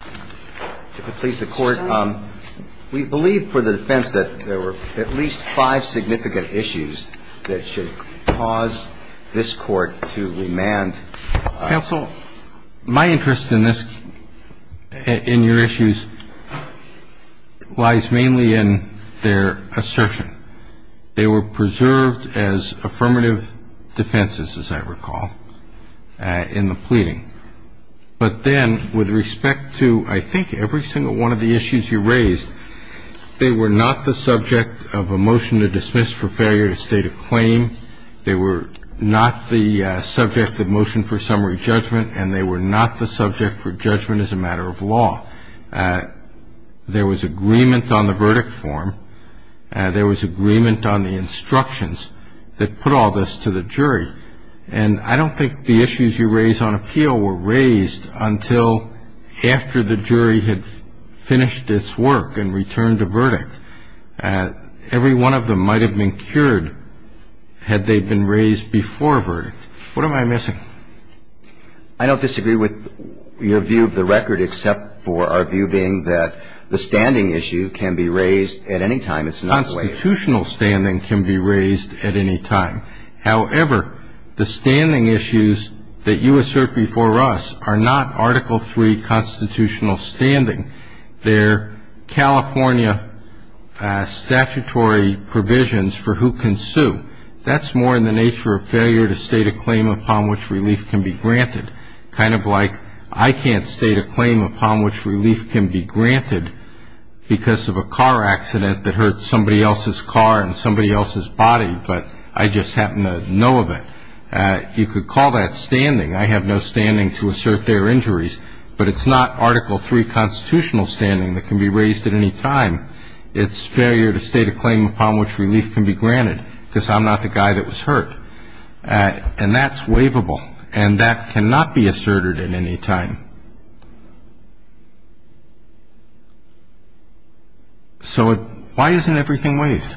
to please the Court. We believe for the defense that there were at least five significant issues that should cause this Court to remand. Counsel, my interest in this, in your issues lies mainly in their assertion. They were preserved as affirmative defenses, as I recall, in the pleading. But then, with respect to, I think, every single one of the issues you raised, they were not the subject of a motion to dismiss for failure to state a claim. They were not the subject of motion for summary judgment, and they were not the subject for judgment as a matter of law. There was agreement on the verdict form. There was agreement on the instructions that put all this to the jury. And I don't think the issues you raised on appeal were raised until after the jury had finished its work and returned a verdict. Every one of them might have been cured had they been raised before a verdict. What am I missing? I don't disagree with your view of the record, except for our view being that the standing issue can be raised at any time. It's not waived. Constitutional standing can be raised at any time. However, the standing issues that you assert before us are not Article III constitutional standing. They're California statutory provisions for who can sue. That's more in the nature of failure to state a claim upon which relief can be granted, kind of like I can't state a claim upon which relief can be granted because of a car accident that hurt somebody else's car and somebody else's body, but I just happen to know of it. You could call that standing. I have no standing to assert their injuries, but it's not Article III constitutional standing that can be raised at any time. It's failure to state a claim upon which relief can be granted because I'm not the guy that was hurt. And that's waivable, and that cannot be asserted at any time. So why isn't everything waived?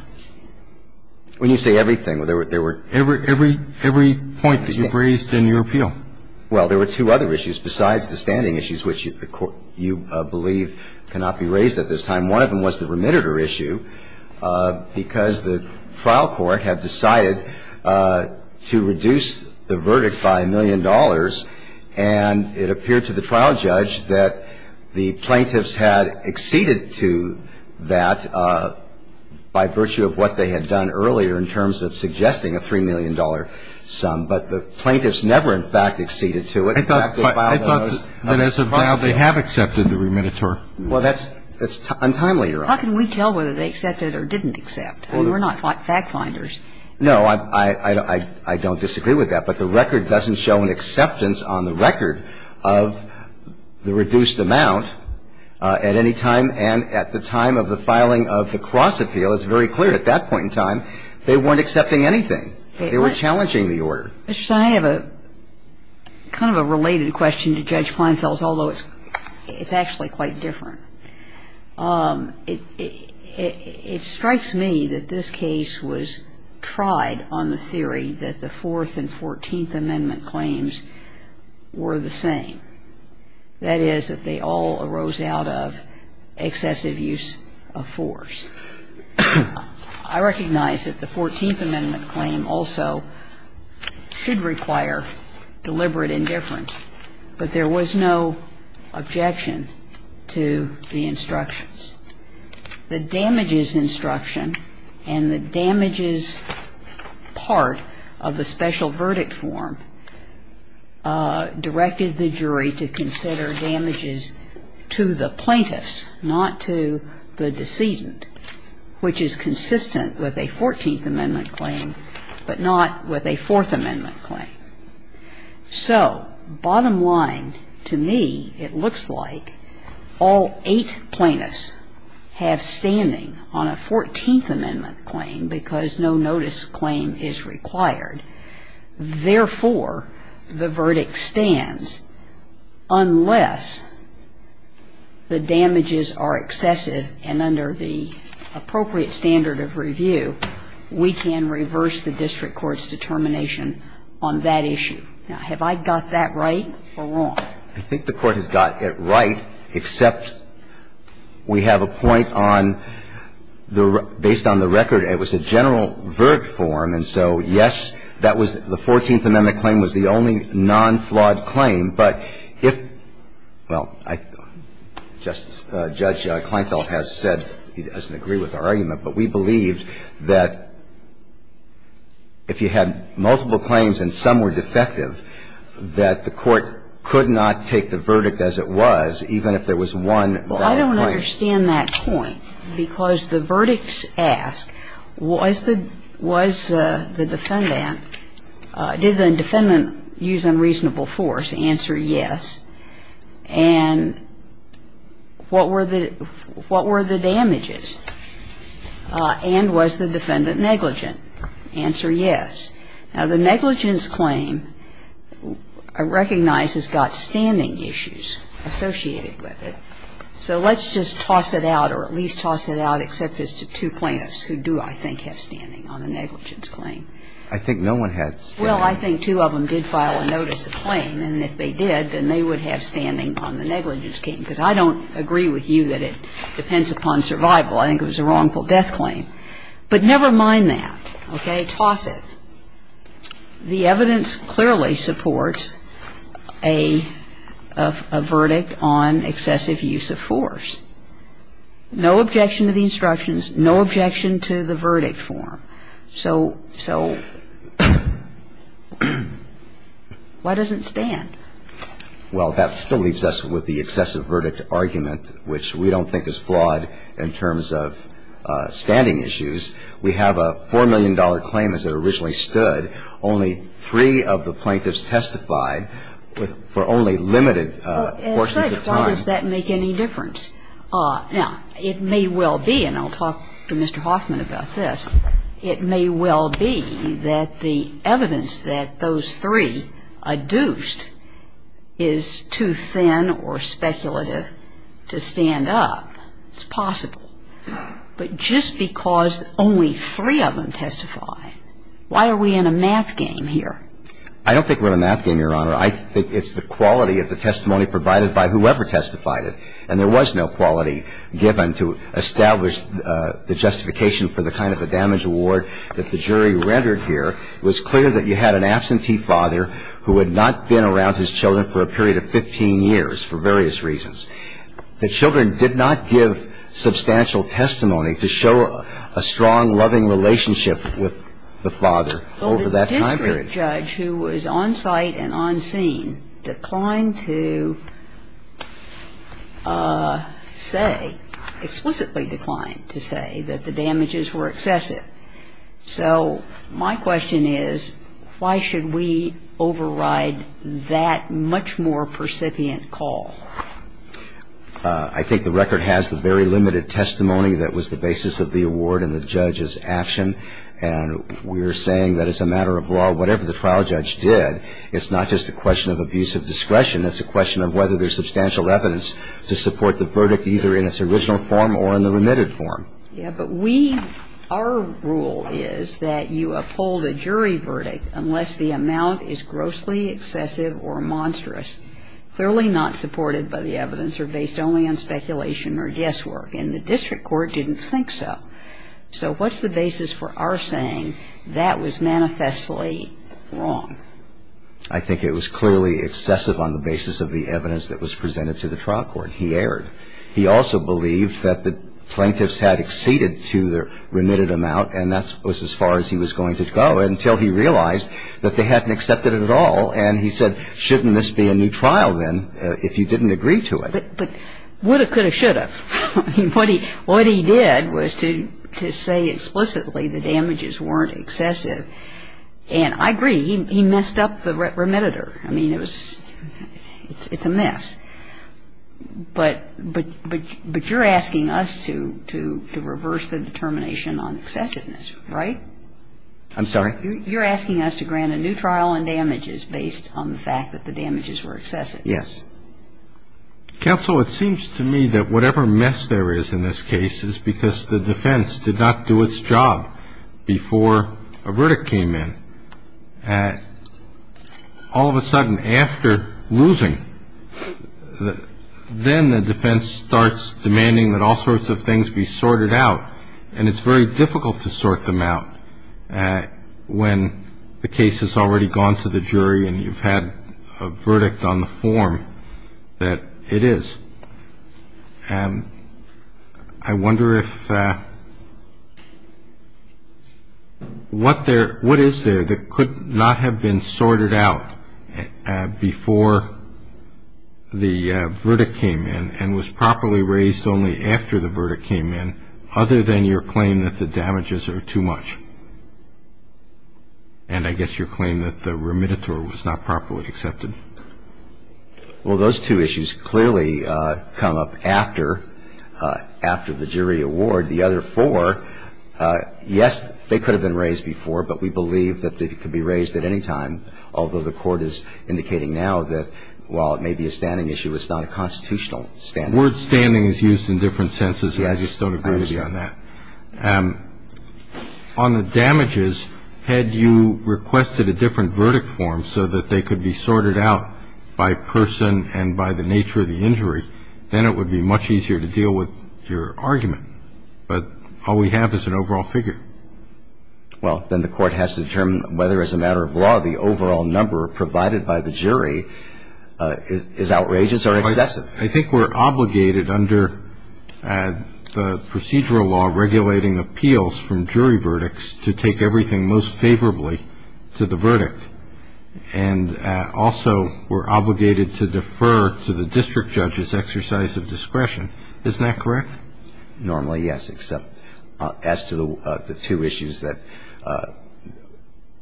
When you say everything, there were — Every point that you've raised in your appeal. Well, there were two other issues besides the standing issues, which you believe cannot be raised at this time. One of them was the remediator issue, because the trial court had decided to reduce the verdict by a million dollars, and it appeared to the trial judge that the plaintiffs had acceded to that by virtue of what they had done earlier in terms of suggesting a $3 million sum. But the plaintiffs never, in fact, acceded to it. I thought that as a vial they have accepted the remediator. Well, that's untimely, Your Honor. How can we tell whether they accepted or didn't accept? I mean, we're not fact-finders. No, I don't disagree with that. But the record doesn't show an acceptance on the record of the reduced amount at any time. And at the time of the filing of the cross-appeal, it's very clear at that point in time, they weren't accepting anything. They were challenging the order. Mr. Sonner, I have a kind of a related question to Judge Plainfell's, although it's actually quite different. It strikes me that this case was tried on the theory that the Fourth and Fourteenth Amendment claims were the same. That is, that they all arose out of excessive use of force. I recognize that the Fourteenth Amendment claim also should require deliberate indifference, but there was no objection to the instructions. The damages instruction and the damages part of the special verdict form directed the jury to consider damages to the plaintiffs, not to the decedent. Which is consistent with a Fourteenth Amendment claim, but not with a Fourth Amendment claim. So, bottom line, to me, it looks like all eight plaintiffs have standing on a Fourteenth Amendment claim because no notice claim is required. Therefore, the verdict stands unless the damages are excessive and under the appropriate standard of review, we can reverse the district court's determination on that issue. Now, have I got that right or wrong? I think the Court has got it right, except we have a point on the record. I think the Court has got it right. The Court has got it wrong. And I think based on the record, it was a general verdict form. And so, yes, that was the Fourteenth Amendment claim was the only non-flawed claim. But if you had multiple claims and some were defective, that the Court could not take the verdict as it was, even if there was one valid claim. Well, I don't understand that point because the verdicts ask, was the defendant – did the defendant use unreasonable force? Answer, yes. And what were the damages? And was the defendant negligent? Answer, yes. Now, the negligence claim I recognize has got standing issues associated with it. So let's just toss it out or at least toss it out, except as to two plaintiffs who do, I think, have standing on the negligence claim. I think no one had standing. Well, I think two of them did file a notice of claim. And if they did, then they would have standing on the negligence claim, because I don't agree with you that it depends upon survival. I think it was a wrongful death claim. But never mind that. Okay? The evidence clearly supports a verdict on excessive use of force. No objection to the instructions. No objection to the verdict form. So why does it stand? Well, that still leaves us with the excessive verdict argument, which we don't think is flawed in terms of standing issues. I mean, we have a $4 million claim as it originally stood. Only three of the plaintiffs testified for only limited portions of time. Well, as such, why does that make any difference? Now, it may well be, and I'll talk to Mr. Hoffman about this, it may well be that the evidence that those three adduced is too thin or speculative to stand up. It's possible. But just because only three of them testified, why are we in a math game here? I don't think we're in a math game, Your Honor. I think it's the quality of the testimony provided by whoever testified it. And there was no quality given to establish the justification for the kind of a damage award that the jury rendered here. It was clear that you had an absentee father who had not been around his children for a period of 15 years for various reasons. The children did not give substantial testimony to show a strong, loving relationship with the father over that time period. Well, the district judge who was on site and on scene declined to say, explicitly declined to say that the damages were excessive. So my question is, why should we override that much more percipient call? I think the record has the very limited testimony that was the basis of the award and the judge's action. And we're saying that as a matter of law, whatever the trial judge did, it's not just a question of abusive discretion. It's a question of whether there's substantial evidence to support the verdict, either in its original form or in the remitted form. Yeah, but we, our rule is that you uphold a jury verdict unless the amount is grossly excessive or monstrous. Clearly not supported by the evidence or based only on speculation or guesswork. And the district court didn't think so. So what's the basis for our saying that was manifestly wrong? I think it was clearly excessive on the basis of the evidence that was presented to the trial court. He erred. He also believed that the plaintiffs had exceeded to their remitted amount, and that was as far as he was going to go until he realized that they hadn't accepted it at all. And he said, shouldn't this be a new trial then if you didn't agree to it? But would have, could have, should have. I mean, what he did was to say explicitly the damages weren't excessive. And I agree. He messed up the remittitor. I mean, it was, it's a mess. But you're asking us to reverse the determination on excessiveness, right? I'm sorry? You're asking us to grant a new trial on damages based on the fact that the damages were excessive. Yes. Counsel, it seems to me that whatever mess there is in this case is because the defense did not do its job before a verdict came in. All of a sudden, after losing, then the defense starts demanding that all sorts of things be sorted out. And it's very difficult to sort them out. When the case has already gone to the jury and you've had a verdict on the form that it is. I wonder if, what there, what is there that could not have been sorted out before the verdict came in and was properly raised only after the verdict came in other than your And I guess your claim that the remittitor was not properly accepted. Well, those two issues clearly come up after, after the jury award. The other four, yes, they could have been raised before, but we believe that they could be raised at any time, although the Court is indicating now that while it may be a standing issue, it's not a constitutional standing. The word standing is used in different senses. Yes. I just don't agree with you on that. On the damages, had you requested a different verdict form so that they could be sorted out by person and by the nature of the injury, then it would be much easier to deal with your argument. But all we have is an overall figure. Well, then the Court has to determine whether, as a matter of law, the overall number provided by the jury is outrageous or excessive. I think we're obligated under the procedural law regulating appeals from jury verdicts to take everything most favorably to the verdict. And also we're obligated to defer to the district judge's exercise of discretion. Isn't that correct? Normally, yes, except as to the two issues that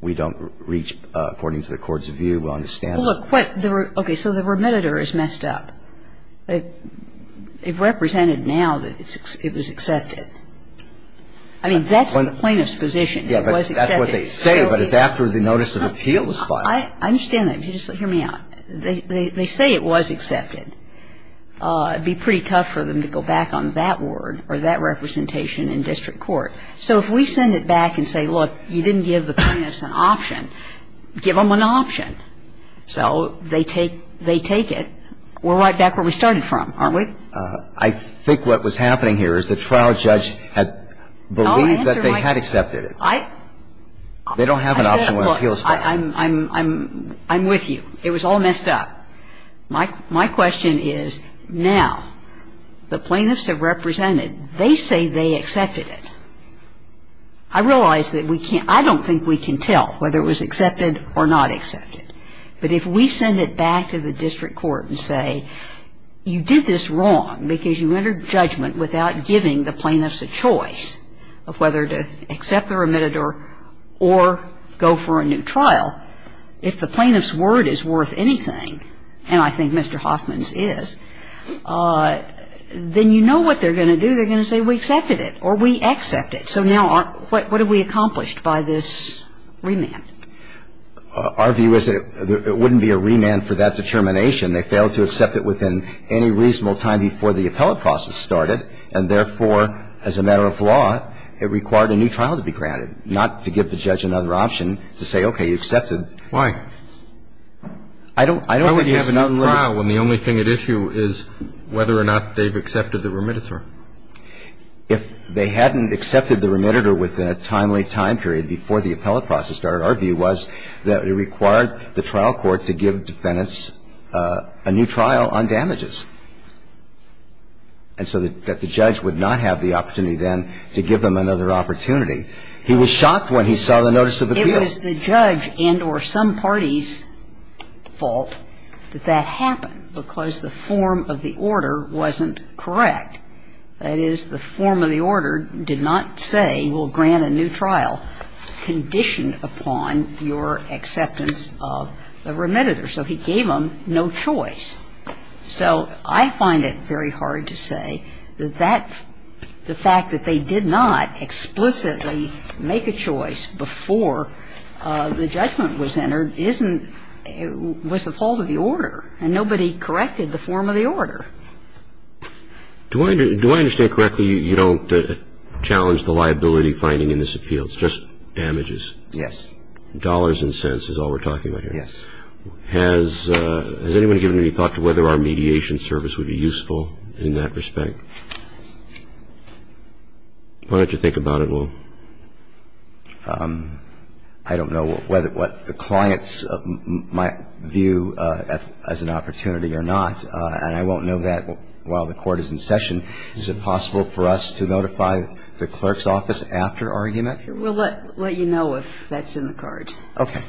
we don't reach, according to the Court's view, we'll understand that. Well, look. Okay. So the remitter is messed up. It represented now that it was accepted. I mean, that's the plaintiff's position. It was accepted. Yeah, but that's what they say, but it's after the notice of appeal was filed. I understand that. Just hear me out. They say it was accepted. It would be pretty tough for them to go back on that word or that representation in district court. So if we send it back and say, look, you didn't give the plaintiffs an option, give them an option. So they take it. We're right back where we started from, aren't we? I think what was happening here is the trial judge had believed that they had accepted it. They don't have an option when appeals file. I'm with you. It was all messed up. My question is, now the plaintiffs have represented. They say they accepted it. I realize that we can't – I don't think we can tell whether it was accepted or not accepted. But if we send it back to the district court and say, you did this wrong because you entered judgment without giving the plaintiffs a choice of whether to accept or admit it or go for a new trial, if the plaintiff's word is worth anything, and I think Mr. Hoffman's is, then you know what they're going to do. They're going to say, we accepted it or we accept it. So now what have we accomplished by this remand? Our view is that it wouldn't be a remand for that determination. They failed to accept it within any reasonable time before the appellate process started, and therefore, as a matter of law, it required a new trial to be granted, not to give the judge another option to say, okay, you accepted. Why? I don't think there's another limit. And the only thing at issue is whether or not they've accepted the remediator. If they hadn't accepted the remediator within a timely time period before the appellate process started, our view was that it required the trial court to give defendants a new trial on damages, and so that the judge would not have the opportunity then to give them another opportunity. He was shocked when he saw the notice of appeal. It was the judge and or some party's fault that that happened, because the form of the order wasn't correct. That is, the form of the order did not say we'll grant a new trial conditioned upon your acceptance of the remediator. So he gave them no choice. So I find it very hard to say that that the fact that they did not explicitly make a choice before the judgment was entered wasn't the fault of the order, and nobody corrected the form of the order. Do I understand correctly you don't challenge the liability finding in this appeal? It's just damages. Yes. Dollars and cents is all we're talking about here. Yes. Has anyone given any thought to whether our mediation service would be useful in that respect? Why don't you think about it, Will? I don't know whether what the clients might view as an opportunity or not, and I won't know that while the Court is in session. Is it possible for us to notify the clerk's office after argument? We'll let you know if that's in the card. Okay.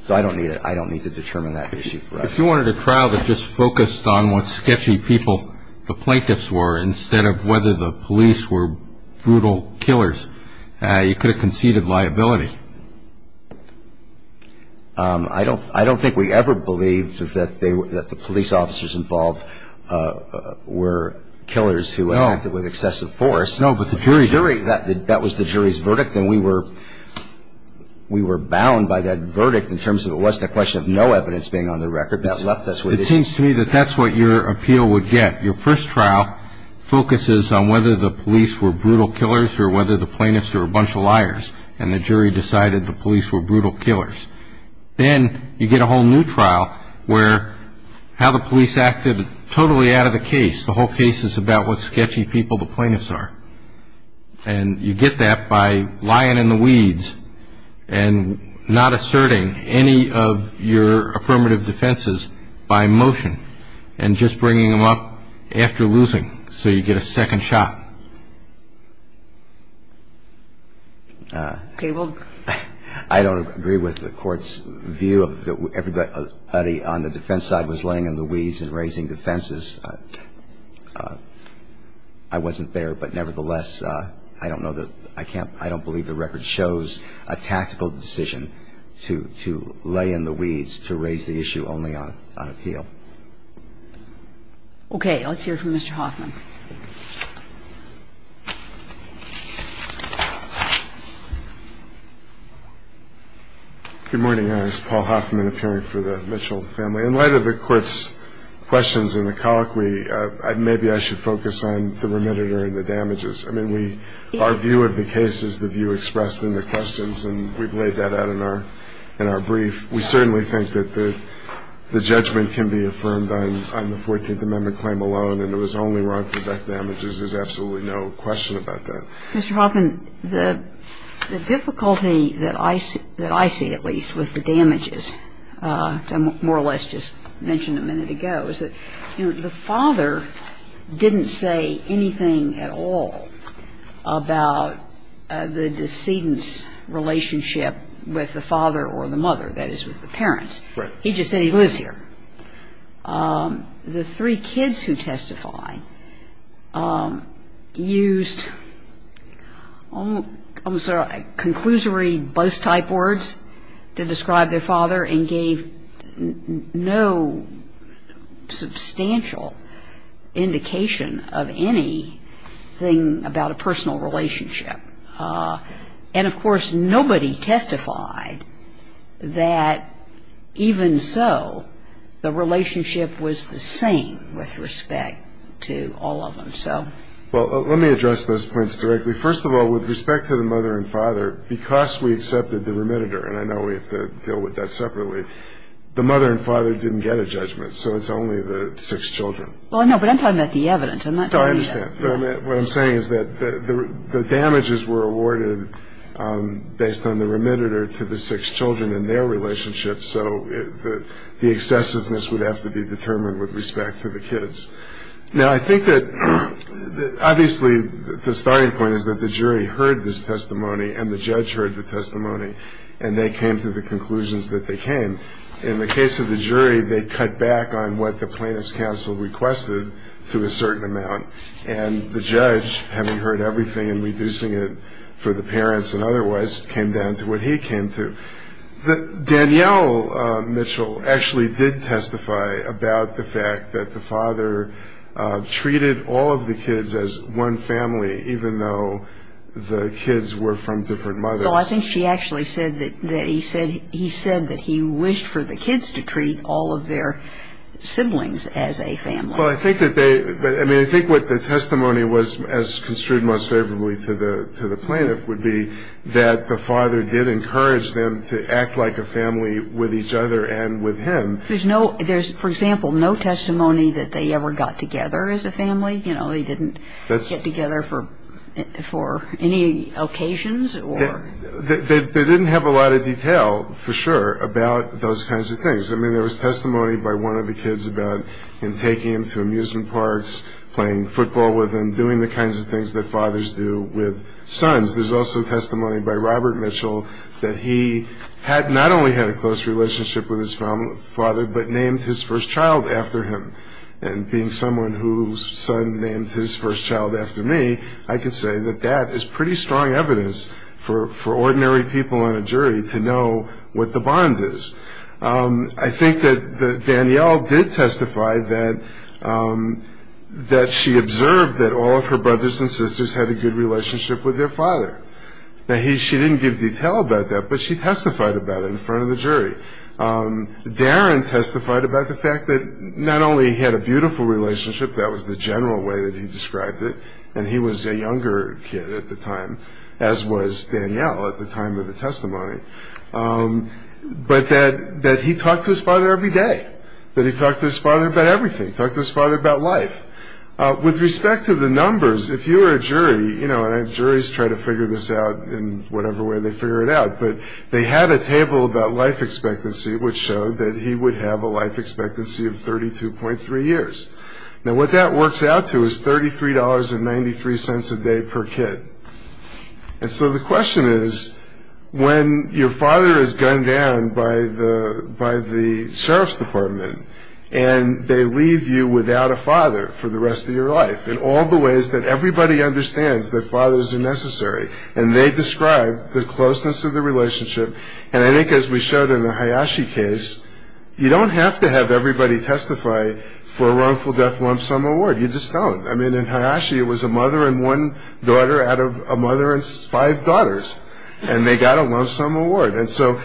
So I don't need it. I don't need to determine that issue for us. If you wanted a trial that just focused on what sketchy people the plaintiffs were instead of whether the police were brutal killers, you could have conceded liability. I don't think we ever believed that the police officers involved were killers who acted with excessive force. No, but the jury... That was the jury's verdict, and we were bound by that verdict in terms of it wasn't a question of no evidence being on the record. That left us with... It seems to me that that's what your appeal would get. Your first trial focuses on whether the police were brutal killers or whether the plaintiffs were a bunch of liars, and the jury decided the police were brutal killers. Then you get a whole new trial where how the police acted totally out of the case. The whole case is about what sketchy people the plaintiffs are. And you get that by lying in the weeds and not asserting any of your affirmative defenses by motion and just bringing them up after losing so you get a second shot. I don't agree with the court's view that everybody on the defense side was laying in the weeds and raising defenses. I wasn't there, but nevertheless, I don't believe the record shows a tactical decision to lay in the weeds to raise the issue only on appeal. Okay. Let's hear from Mr. Hoffman. Good morning. This is Paul Hoffman appearing for the Mitchell family. In light of the Court's questions in the colloquy, maybe I should focus on the remediator and the damages. I mean, we... Our view of the case is the view expressed in the questions, and we've laid that out in our brief. We certainly think that the judgment can be affirmed on the 14th Amendment claim alone, and it was only wrong for that damages. There's absolutely no question about that. Mr. Hoffman, the difficulty that I see, at least, with the damages, more or less just mentioned a minute ago, is that the father didn't say anything at all about the decedent's relationship with the father or the mother, that is, with the parents. Right. He just said he lives here. The three kids who testify used, I'm sorry, conclusory buzz-type words to describe their father and gave no substantial indication of anything about a personal relationship. And, of course, nobody testified that, even so, the relationship was the same with respect to all of them. Well, let me address those points directly. First of all, with respect to the mother and father, because we accepted the remediator, and I know we have to deal with that separately, the mother and father didn't get a judgment, so it's only the six children. Well, no, but I'm talking about the evidence. I'm not talking about... What I'm saying is that the damages were awarded based on the remediator to the six children and their relationship, so the excessiveness would have to be determined with respect to the kids. Now, I think that, obviously, the starting point is that the jury heard this testimony and the judge heard the testimony, and they came to the conclusions that they came. In the case of the jury, they cut back on what the plaintiff's counsel requested to a certain amount, and the judge, having heard everything and reducing it for the parents and otherwise, came down to what he came to. Danielle Mitchell actually did testify about the fact that the father treated all of the kids as one family, even though the kids were from different mothers. Well, I think she actually said that he said that he wished for the kids to treat all of their siblings as a family. Well, I think that they... I mean, I think what the testimony was, as construed most favorably to the plaintiff, would be that the father did encourage them to act like a family with each other and with him. There's no... There's, for example, no testimony that they ever got together as a family. You know, they didn't get together for any occasions or... They didn't have a lot of detail, for sure, about those kinds of things. I mean, there was testimony by one of the kids about him taking him to amusement parks, playing football with him, doing the kinds of things that fathers do with sons. There's also testimony by Robert Mitchell that he not only had a close relationship with his father, but named his first child after him. And being someone whose son named his first child after me, I can say that that is pretty strong evidence for ordinary people in a jury to know what the bond is. I think that Danielle did testify that she observed that all of her brothers and sisters had a good relationship with their father. Now, she didn't give detail about that, but she testified about it in front of the jury. Darren testified about the fact that not only he had a beautiful relationship, that was the general way that he described it, and he was a younger kid at the time, as was Danielle at the time of the testimony. But that he talked to his father every day, that he talked to his father about everything, talked to his father about life. With respect to the numbers, if you were a jury, you know, and juries try to figure this out in whatever way they figure it out, but they had a table about life expectancy which showed that he would have a life expectancy of 32.3 years. Now, what that works out to is $33.93 a day per kid. And so the question is, when your father is gunned down by the sheriff's department and they leave you without a father for the rest of your life in all the ways that everybody understands that fathers are necessary, and they describe the closeness of the relationship, and I think as we showed in the Hayashi case, you don't have to have everybody testify for a wrongful death lump sum award. You just don't. I mean, in Hayashi, it was a mother and one daughter out of a mother and five daughters, and they got a lump sum award. And so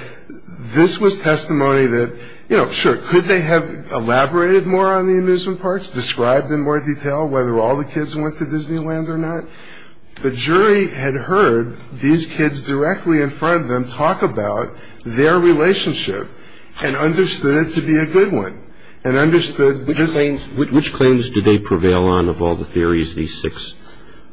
this was testimony that, you know, sure, could they have elaborated more on the amusement parks, described in more detail whether all the kids went to Disneyland or not? The jury had heard these kids directly in front of them talk about their relationship and understood it to be a good one and understood this. Which claims did they prevail on of all the theories, these six?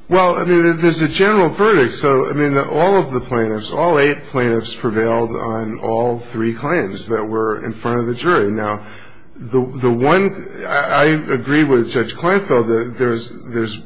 Well, I mean, there's a general verdict. So, I mean, all of the plaintiffs, all eight plaintiffs prevailed on all three claims that were in front of the jury. Now, the one I agree with Judge Kleinfeld that there's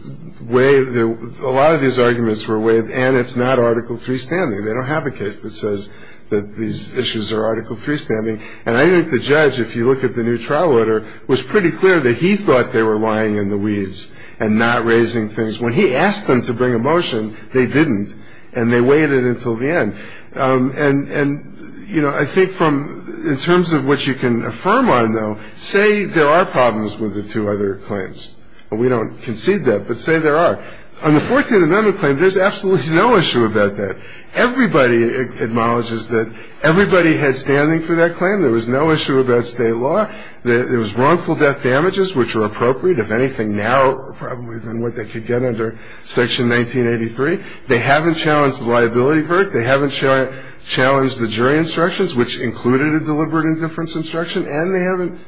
a lot of these arguments were waived and it's not Article III standing. They don't have a case that says that these issues are Article III standing. And I think the judge, if you look at the new trial order, was pretty clear that he thought they were lying in the weeds and not raising things. When he asked them to bring a motion, they didn't, and they waited until the end. And, you know, I think in terms of what you can affirm on, though, say there are problems with the two other claims. We don't concede that, but say there are. On the 14th Amendment claim, there's absolutely no issue about that. Everybody acknowledges that everybody had standing for that claim. There was no issue about state law. There was wrongful death damages, which were appropriate, if anything now probably than what they could get under Section 1983. They haven't challenged the liability verdict. They haven't challenged the jury instructions, which included a deliberate indifference instruction. And they haven't,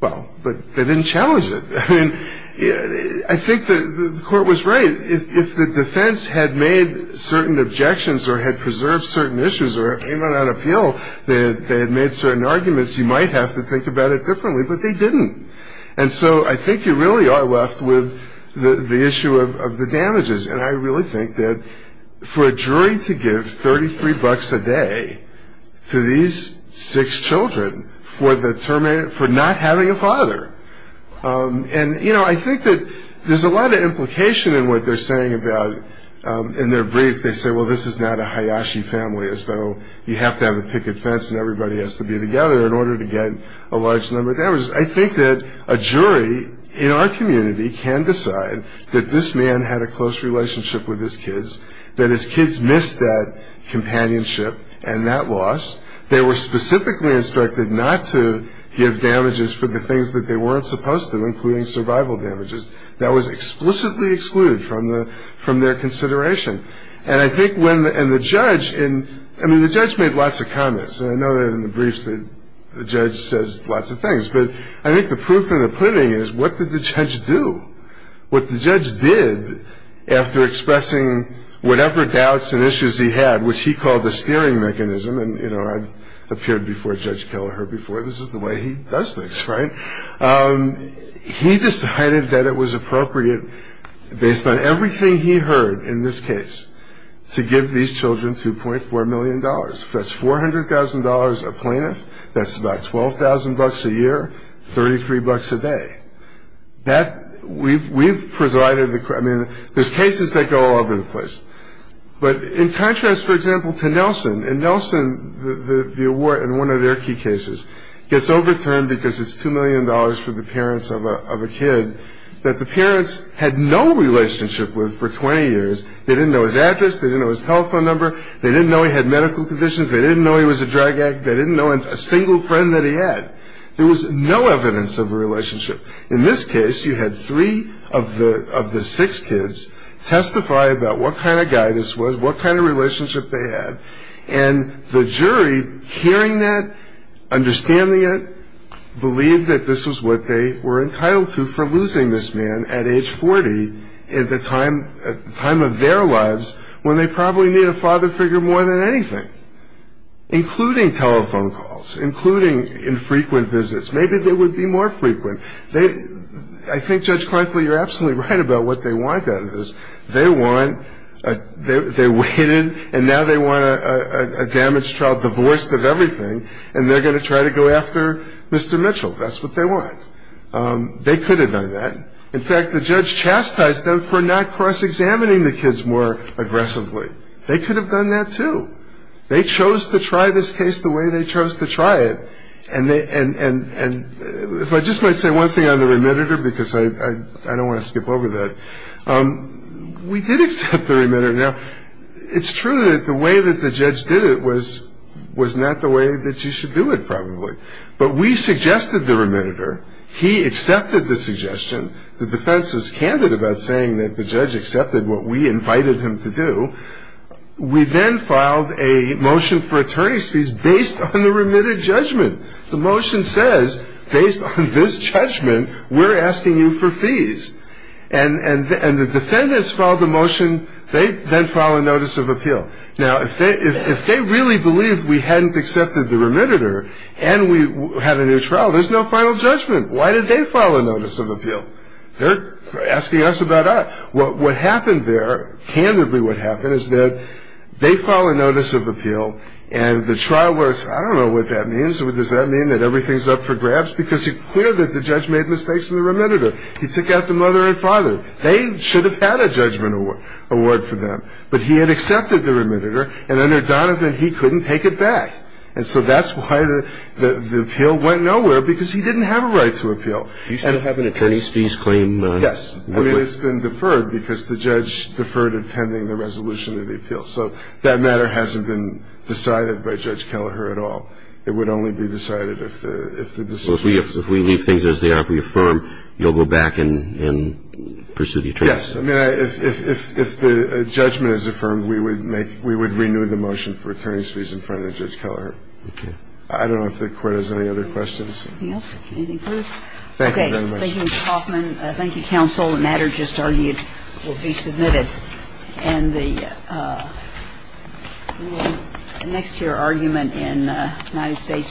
well, but they didn't challenge it. I mean, I think the Court was right. If the defense had made certain objections or had preserved certain issues or came out on appeal, they had made certain arguments, you might have to think about it differently, but they didn't. And so I think you really are left with the issue of the damages. And I really think that for a jury to give $33 a day to these six children for not having a father, and, you know, I think that there's a lot of implication in what they're saying about in their brief. They say, well, this is not a Hayashi family, so you have to have a picket fence and everybody has to be together in order to get a large number of damages. I think that a jury in our community can decide that this man had a close relationship with his kids, that his kids missed that companionship and that loss. They were specifically instructed not to give damages for the things that they weren't supposed to, including survival damages. That was explicitly excluded from their consideration. And I think when the judge, I mean, the judge made lots of comments, and I know that in the briefs the judge says lots of things, but I think the proof in the pudding is what did the judge do? What the judge did after expressing whatever doubts and issues he had, which he called the steering mechanism, and, you know, I've appeared before Judge Kelleher before. This is the way he does things, right? He decided that it was appropriate, based on everything he heard in this case, to give these children $2.4 million. That's $400,000 a plaintiff. That's about $12,000 a year, $33 a day. We've presided, I mean, there's cases that go all over the place. But in contrast, for example, to Nelson. In Nelson, the award in one of their key cases gets overturned because it's $2 million for the parents of a kid that the parents had no relationship with for 20 years. They didn't know his address. They didn't know his telephone number. They didn't know he had medical conditions. They didn't know he was a drag act. They didn't know a single friend that he had. There was no evidence of a relationship. In this case, you had three of the six kids testify about what kind of guy this was, what kind of relationship they had. And the jury, hearing that, understanding it, believed that this was what they were entitled to for losing this man at age 40, at the time of their lives when they probably needed a father figure more than anything, including telephone calls, including infrequent visits. Maybe they would be more frequent. I think, Judge Kleinfeld, you're absolutely right about what they wanted out of this. They wanted they waited, and now they want a damaged child divorced of everything, and they're going to try to go after Mr. Mitchell. That's what they want. They could have done that. In fact, the judge chastised them for not cross-examining the kids more aggressively. They could have done that, too. They chose to try this case the way they chose to try it, and if I just might say one thing on the remitter, because I don't want to skip over that. We did accept the remitter. Now, it's true that the way that the judge did it was not the way that you should do it, probably, but we suggested the remitter. He accepted the suggestion. The defense is candid about saying that the judge accepted what we invited him to do. We then filed a motion for attorney's fees based on the remitted judgment. The motion says, based on this judgment, we're asking you for fees, and the defendants filed the motion. They then file a notice of appeal. Now, if they really believed we hadn't accepted the remitter and we had a new trial, there's no final judgment. Why did they file a notice of appeal? They're asking us about us. What happened there, candidly what happened, is that they filed a notice of appeal, and the trial was, I don't know what that means. Does that mean that everything's up for grabs? Because it's clear that the judge made mistakes in the remitter. He took out the mother and father. They should have had a judgment award for them, but he had accepted the remitter, and under Donovan he couldn't take it back. And so that's why the appeal went nowhere, because he didn't have a right to appeal. You still have an attorney's fees claim? Yes. I mean, it's been deferred because the judge deferred it pending the resolution of the appeal. So that matter hasn't been decided by Judge Kelleher at all. It would only be decided if the decision was made. Well, if we leave things as they are, if we affirm, you'll go back and pursue the attorney's fees? Yes. I mean, if the judgment is affirmed, we would renew the motion for attorney's fees in front of Judge Kelleher. Okay. I don't know if the Court has any other questions. Anything else? Anything further? Thank you very much. Thank you, Mr. Hoffman. Thank you, counsel. The matter just argued will be submitted. And the next to your argument in United States v. Ferguson.